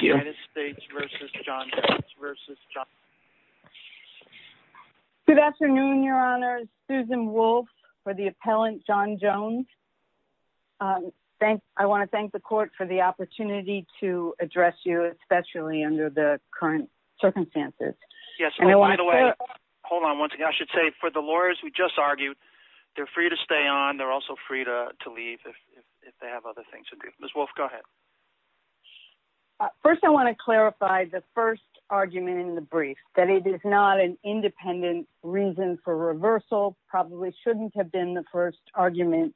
Jones v. Johnson. Good afternoon, Your Honor. Susan Wolfe for the appellant John Jones. I want to thank the court for the opportunity to address you, especially under the current circumstances. Yes, and by the way, hold on one second. I should say for the lawyers we just argued, they're free to stay on. They're also free to leave if they have other things to do. Ms. Wolfe, go ahead. First, I want to clarify the first argument in the brief, that it is not an independent reason for reversal, probably shouldn't have been the first argument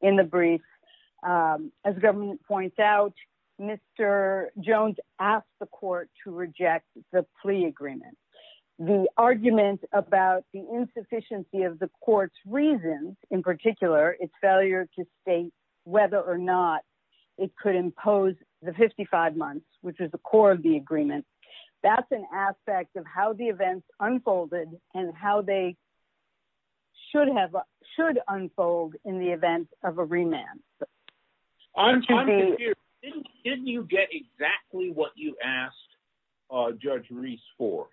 in the brief. As the government points out, Mr. Jones asked the court to reject the plea agreement. The argument about the insufficiency of the court's reasons, in particular, its whether or not it could impose the 55 months, which is the core of the agreement. That's an aspect of how the events unfolded and how they should unfold in the event of a remand. I'm confused. Didn't you get exactly what you asked Judge Reese for?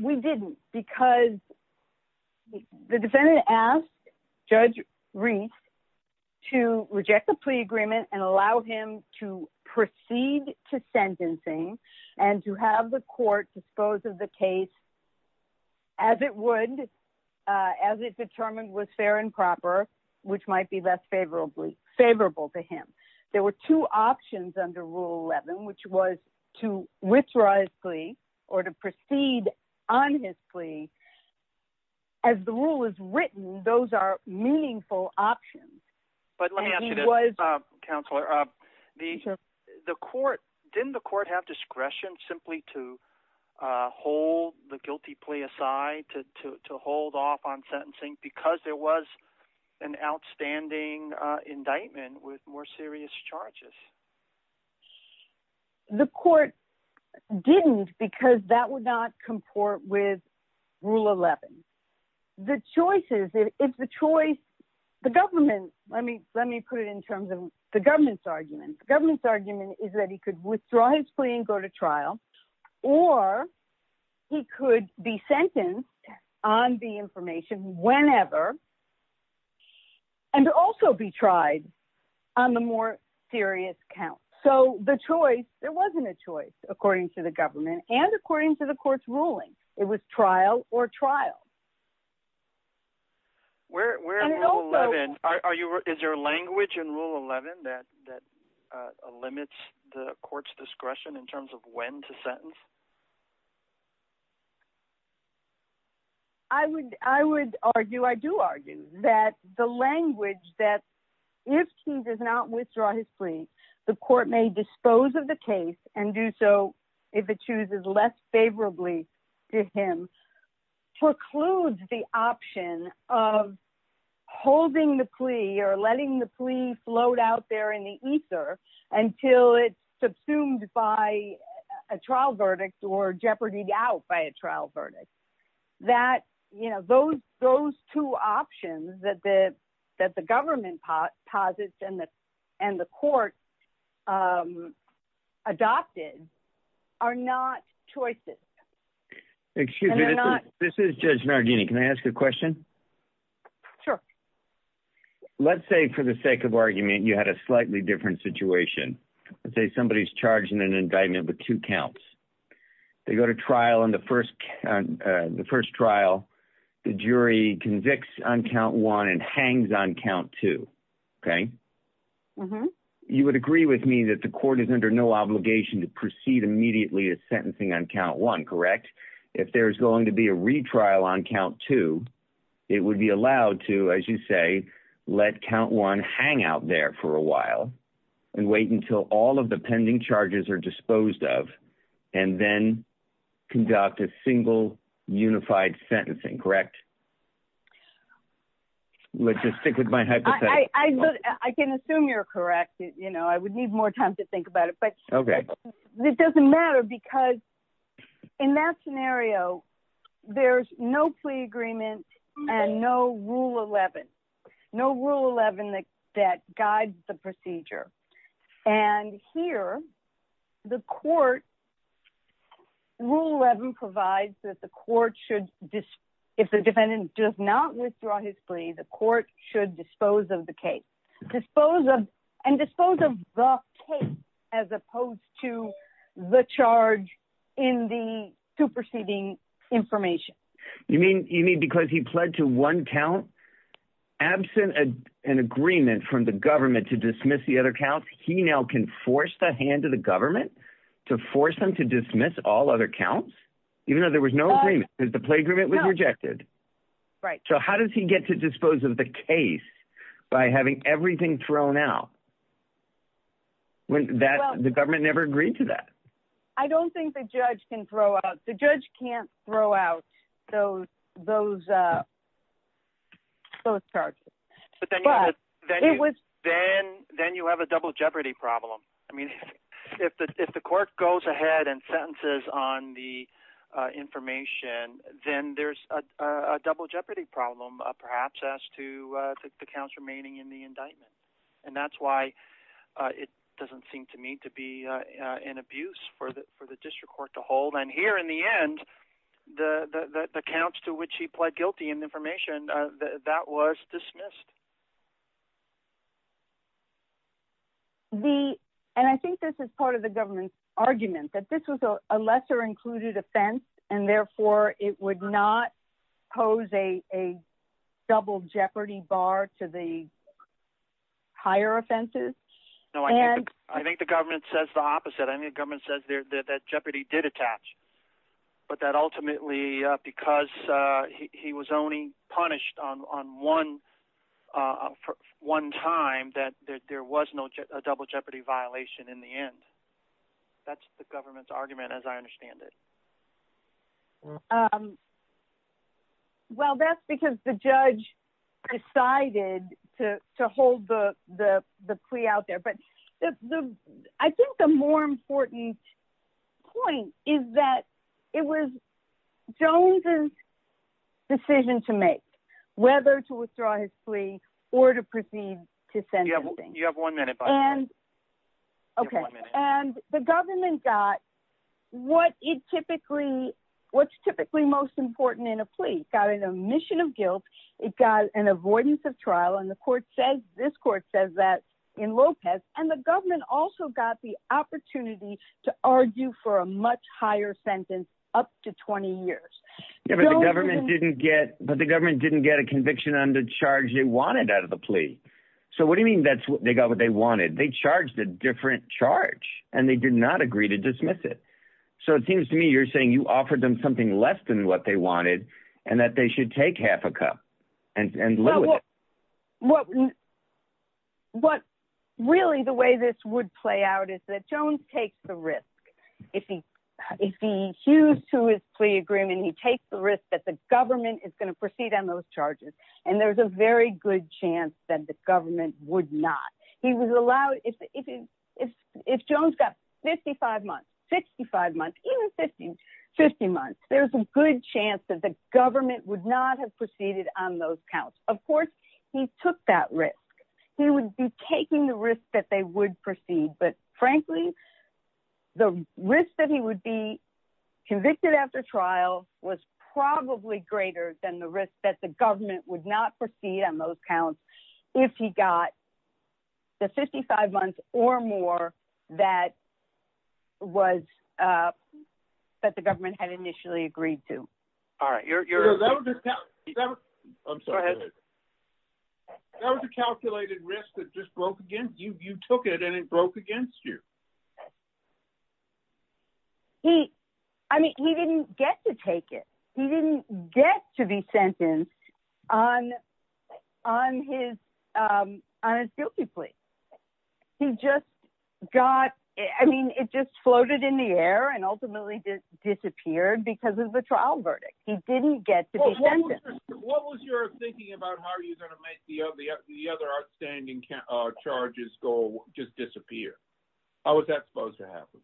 We didn't, because the defendant asked Judge Reese to reject the plea agreement and allow him to proceed to sentencing and to have the court dispose of the case as it would, as it determined was fair and proper, which might be less favorable to him. There were two options under Rule 11, which was to withdraw his plea or to proceed on his plea. As the rule is written, those are meaningful options. Let me ask you this, Counselor. Didn't the court have discretion simply to hold the guilty plea aside, to hold off on sentencing because there was an outstanding indictment with more serious charges? The court didn't, because that would not comport with Rule 11. The choice is, if the choice, the government, let me put it in terms of the government's argument. The government's argument is that he could withdraw his plea and go to trial, or he could be sentenced on the information whenever and also be tried on the more serious count. So the choice, there wasn't a choice according to the government and according to the court's ruling. It was trial or trial. Where in Rule 11, is there a language in Rule 11 that says that? I would argue, I do argue, that the language that if he does not withdraw his plea, the court may dispose of the case and do so if it chooses less favorably to him, precludes the option of holding the plea or letting the plea float out there in the ether until it's subsumed by a trial verdict or jeopardied out by a trial verdict. That, you know, those two options that the government posits and the court adopted are not choices. Excuse me, this is Judge Nardini. Can I ask a question? Sure. Let's say for the sake of argument, you had a slightly different situation. Let's say somebody's charged in an indictment with two counts. They go to trial on the first trial. The jury convicts on count one and hangs on count two, okay? You would agree with me that the court is under no obligation to proceed immediately with sentencing on count one, correct? If there's going to be a retrial on count two, it would be allowed to, as you say, let count one hang out there for a while and wait until all of the pending charges are disposed of and then conduct a single unified sentencing, correct? Let's just stick with my hypothesis. I can assume you're correct. You know, I would need more time to think about it, but it doesn't matter because in that scenario, there's no Rule 11. No Rule 11 that guides the procedure. And here, Rule 11 provides that if the defendant does not withdraw his plea, the court should dispose of the case and dispose of the case as opposed to the charge in the superseding information. You mean because he pled to one count absent an agreement from the government to dismiss the other counts, he now can force the hand of the government to force them to dismiss all other counts even though there was no agreement because the plea agreement was rejected? Right. So how does he get to dispose of the case by having everything thrown out when the government never agreed to that? I don't think the judge can throw out. The judge can't throw out those charges. Then you have a double jeopardy problem. I mean, if the court goes ahead and sentences on the information, then there's a double jeopardy problem perhaps as to the counts remaining in the indictment. And that's why it doesn't seem to me to be an abuse for the district court to hold. And here in the end, the counts to which he pled guilty in the information, that was dismissed. And I think this is part of the government's argument that this was a lesser included offense and therefore it would not pose a double jeopardy bar to the higher offenses. I think the government says the opposite. I think the government says that jeopardy did attach, but that ultimately because he was only punished on one time that there was no double jeopardy violation in the end. That's the government's argument as I understand it. Well, that's because the judge decided to hold the plea out there. But I think the more important point is that it was Jones's decision to make whether to withdraw his plea or to proceed to what's typically most important in a plea, got an omission of guilt. It got an avoidance of trial. And the court says this court says that in Lopez and the government also got the opportunity to argue for a much higher sentence up to 20 years. But the government didn't get a conviction on the charge they wanted out of the plea. So what do you mean they got what they wanted? They charged a different charge and they did not agree to dismiss it. So it seems to me, you're saying you offered them something less than what they wanted and that they should take half a cup and live with it. Really, the way this would play out is that Jones takes the risk. If he hews to his plea agreement, he takes the risk that the government is going to proceed on those charges. And there's a very good chance that the government would not. If Jones got 55 months, even 50 months, there's a good chance that the government would not have proceeded on those counts. Of course, he took that risk. He would be taking the risk that they would proceed. But frankly, the risk that he would be convicted after trial was probably greater than the risk that the government would not proceed on those counts if he got the 55 months or more that was that the government had initially agreed to. All right, you're that was a calculated risk that just broke against you. You took it and it broke against you. He I mean, he didn't get to take it. He didn't get to be sentenced on on his on his guilty plea. He just got I mean, it just floated in the air and ultimately disappeared because of the trial verdict. He didn't get to what was your thinking about how are you going to make the other outstanding charges go just disappear? How was that supposed to happen?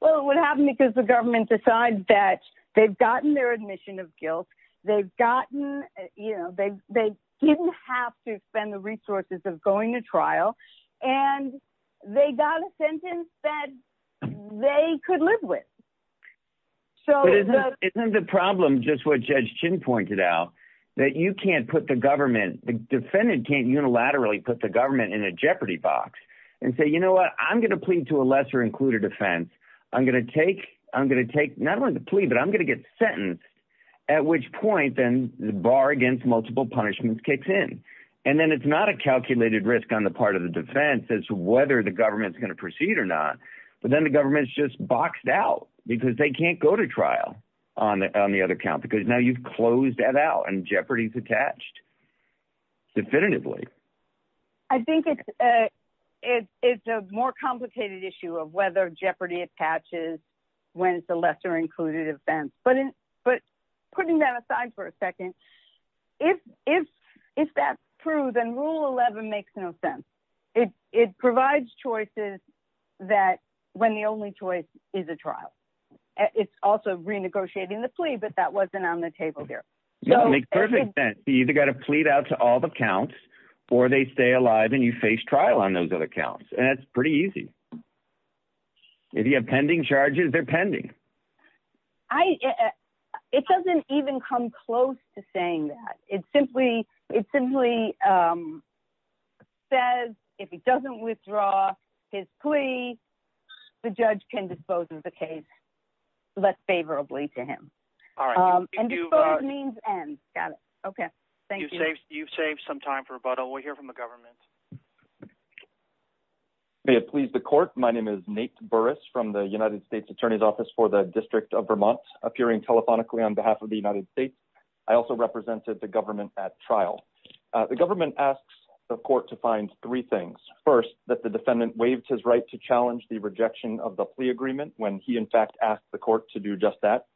Well, what happened because the government decided that they've gotten their admission of guilt. They've gotten you know, they they didn't have to spend the resources of going to trial and they got a sentence that they could live with. So isn't the problem just what Judge Chin pointed out that you can't put the government the defendant can't unilaterally put the government in a jeopardy box and say, you know what? I'm going to plead to a lesser included offense. I'm going to take I'm going to take not only the plea, but I'm going to get sentenced at which point then the bar against multiple punishments kicks in. And then it's not a calculated risk on the part of the defense as to whether the government's going to proceed or not. But then the government's just boxed out because they can't go to trial on the other count because now you've closed that out and jeopardy is attached. Definitively, I think it is a more complicated issue of whether jeopardy attaches when it's a lesser included offense. But putting that aside for a second, if that's true, then Rule 11 makes no sense. It provides choices that when the only choice is a trial. It's also renegotiating the plea, but that wasn't on the table here. No, it makes perfect sense. You either got to plead out to all the counts or they stay alive and you face trial on those other counts. And that's pretty easy. If you have pending charges, they're pending. It doesn't even come close to saying that. It simply says if he doesn't withdraw his plea, the judge can dispose of the case less favorably to him. And dispose means end. Got it. Okay. Thank you. You've saved some time for rebuttal. We'll hear from the government. May it please the court. My name is Nate Burris from the United States Attorney's Office for the District of Vermont, appearing telephonically on behalf of the United States. I also represented the government at trial. The government asks the court to find three things. First, that the defendant waived his right to challenge the rejection of the plea agreement when he, in fact, asked the court to do just that.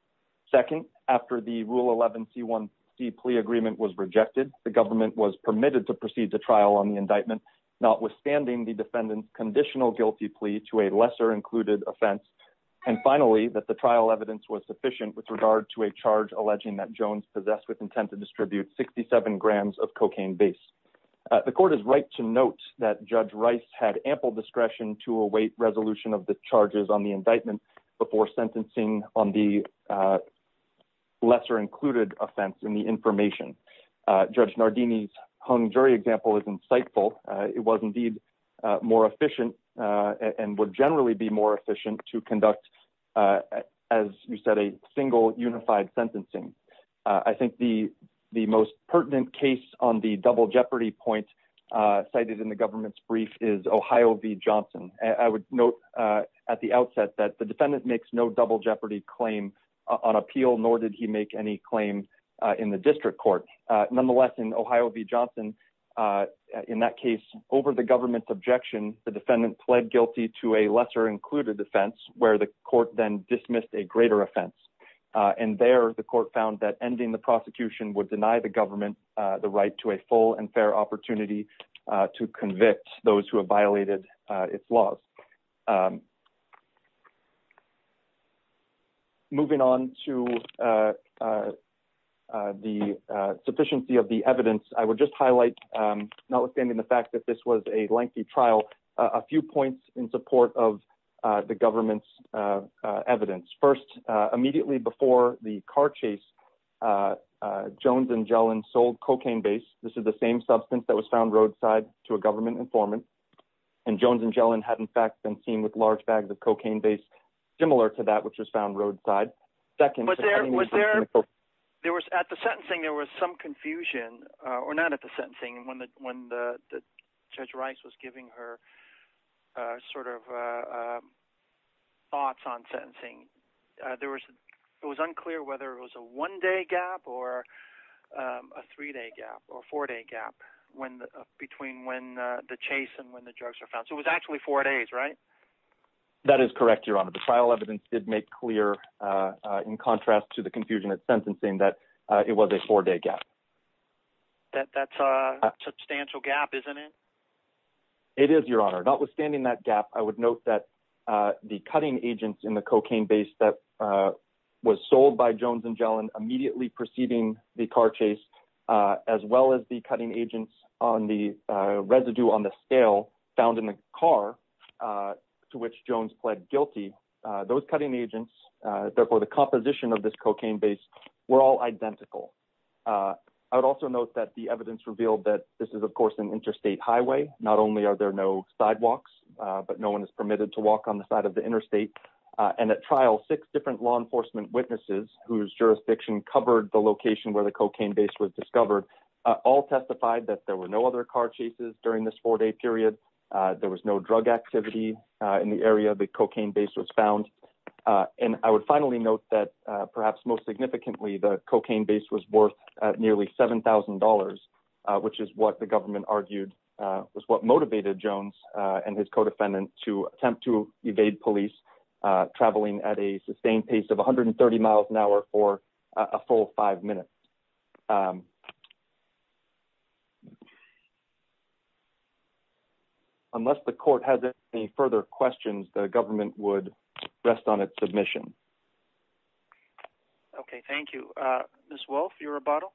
Second, after the Rule 11 C1C plea agreement was rejected, the government was permitted to proceed to trial on the indictment, notwithstanding the defendant's conditional guilty plea to a lesser included offense. And finally, that the trial evidence was sufficient with regard to a charge alleging that Jones possessed with intent to distribute 67 grams of cocaine base. The court is right to note that Judge Rice had ample discretion to await resolution of the charges on the indictment before sentencing on the lesser included offense in the information. Judge Nardini's hung jury example is insightful. It was indeed more efficient and would generally be more efficient to conduct, as you said, a single unified sentencing. I think the most pertinent case on the double jeopardy point cited in the government's brief is Ohio v. Johnson. I would note at the outset that defendant makes no double jeopardy claim on appeal, nor did he make any claim in the district court. Nonetheless, in Ohio v. Johnson, in that case, over the government's objection, the defendant pled guilty to a lesser included offense where the court then dismissed a greater offense. And there, the court found that ending the prosecution would deny the government the right to a full and fair opportunity to convict those who have violated its laws. Moving on to the sufficiency of the evidence, I would just highlight, notwithstanding the fact that this was a lengthy trial, a few points in support of the government's evidence. First, immediately before the car chase, Jones and Gellin sold cocaine base. This is the same substance that was found roadside to a government informant. And Jones and Gellin had, in fact, been seen with large bags of cocaine based similar to that which was found roadside. Second, was there, there was at the sentencing, there was some confusion or not at the sentencing when the judge Rice was giving her sort of thoughts on sentencing. There was, it was unclear whether it was a one day gap or a three day gap or four day gap when between when the chase and when the That is correct, Your Honor. The trial evidence did make clear, in contrast to the confusion at sentencing that it was a four day gap. That's a substantial gap, isn't it? It is, Your Honor. Notwithstanding that gap, I would note that the cutting agents in the cocaine base that was sold by Jones and Gellin immediately preceding the car chase, as well as the cutting agents on the residue on the scale found in the car to which Jones pled guilty, those cutting agents, therefore the composition of this cocaine base were all identical. I would also note that the evidence revealed that this is, of course, an interstate highway. Not only are there no sidewalks, but no one is permitted to walk on the side of the interstate. And at trial, six different law enforcement witnesses whose jurisdiction covered the location where the cocaine base was discovered, all testified that there were no other car chases during this four day period. There was no drug activity in the area of the cocaine base was found. And I would finally note that perhaps most significantly, the cocaine base was worth nearly $7,000, which is what the government argued was what motivated Jones and his co-defendant to attempt to evade police traveling at a sustained pace of 130 miles an hour. Unless the court has any further questions, the government would rest on its submission. Okay, thank you. Ms. Wolfe, your rebuttal?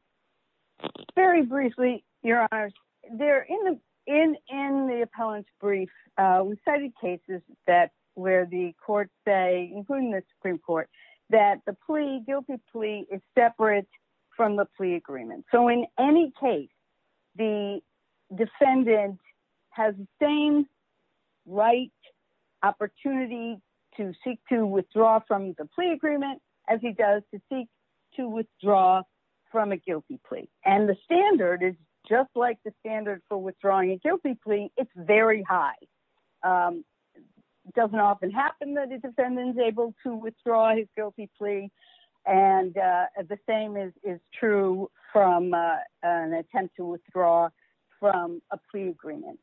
Very briefly, Your Honors. In the appellant's brief, we cited cases that where the court say, including the Supreme Court, that the plea, guilty plea, is separate from the plea agreement. So in any case, the defendant has the same right opportunity to seek to withdraw from the plea agreement as he does to seek to withdraw from a guilty plea. And the standard is just like the standard for withdrawing a guilty plea, it's very high. It doesn't often happen that the defendant is able to withdraw his guilty plea. And the same is true from an attempt to withdraw from a plea agreement.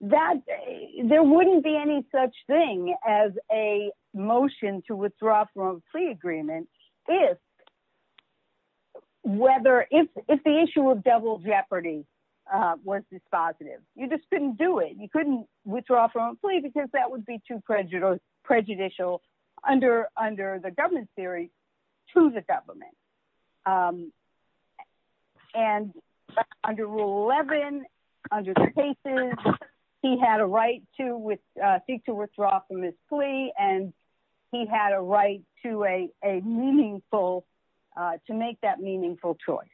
There wouldn't be any such thing as a motion to withdraw from a plea agreement if the issue of double jeopardy was dispositive. You just couldn't do it. You couldn't withdraw from a plea because that would be too prejudicial under the government's theory to the government. And under Rule 11, under the cases, he had a right to withdraw from his plea, and he had a right to make that meaningful choice.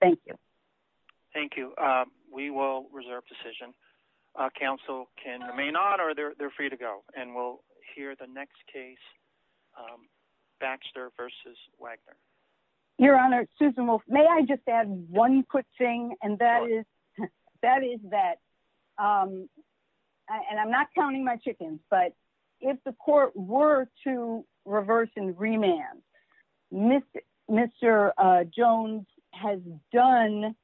Thank you. Thank you. We will reserve decision. Council can remain on, or they're free to go. And we'll hear the next case, Baxter v. Wagner. Your Honor, Susan Wolf, may I just add one quick thing, and that is that, and I'm not counting my chickens, but if the court were to reverse and remand, Mr. Jones has done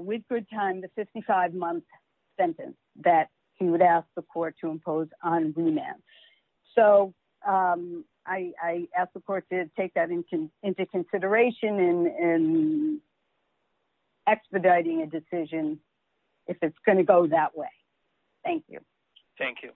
with good time the 55-month sentence that he would ask the court to impose on remand. So I ask the court to take that into consideration in expediting a decision if it's going to go that way. Thank you. Thank you.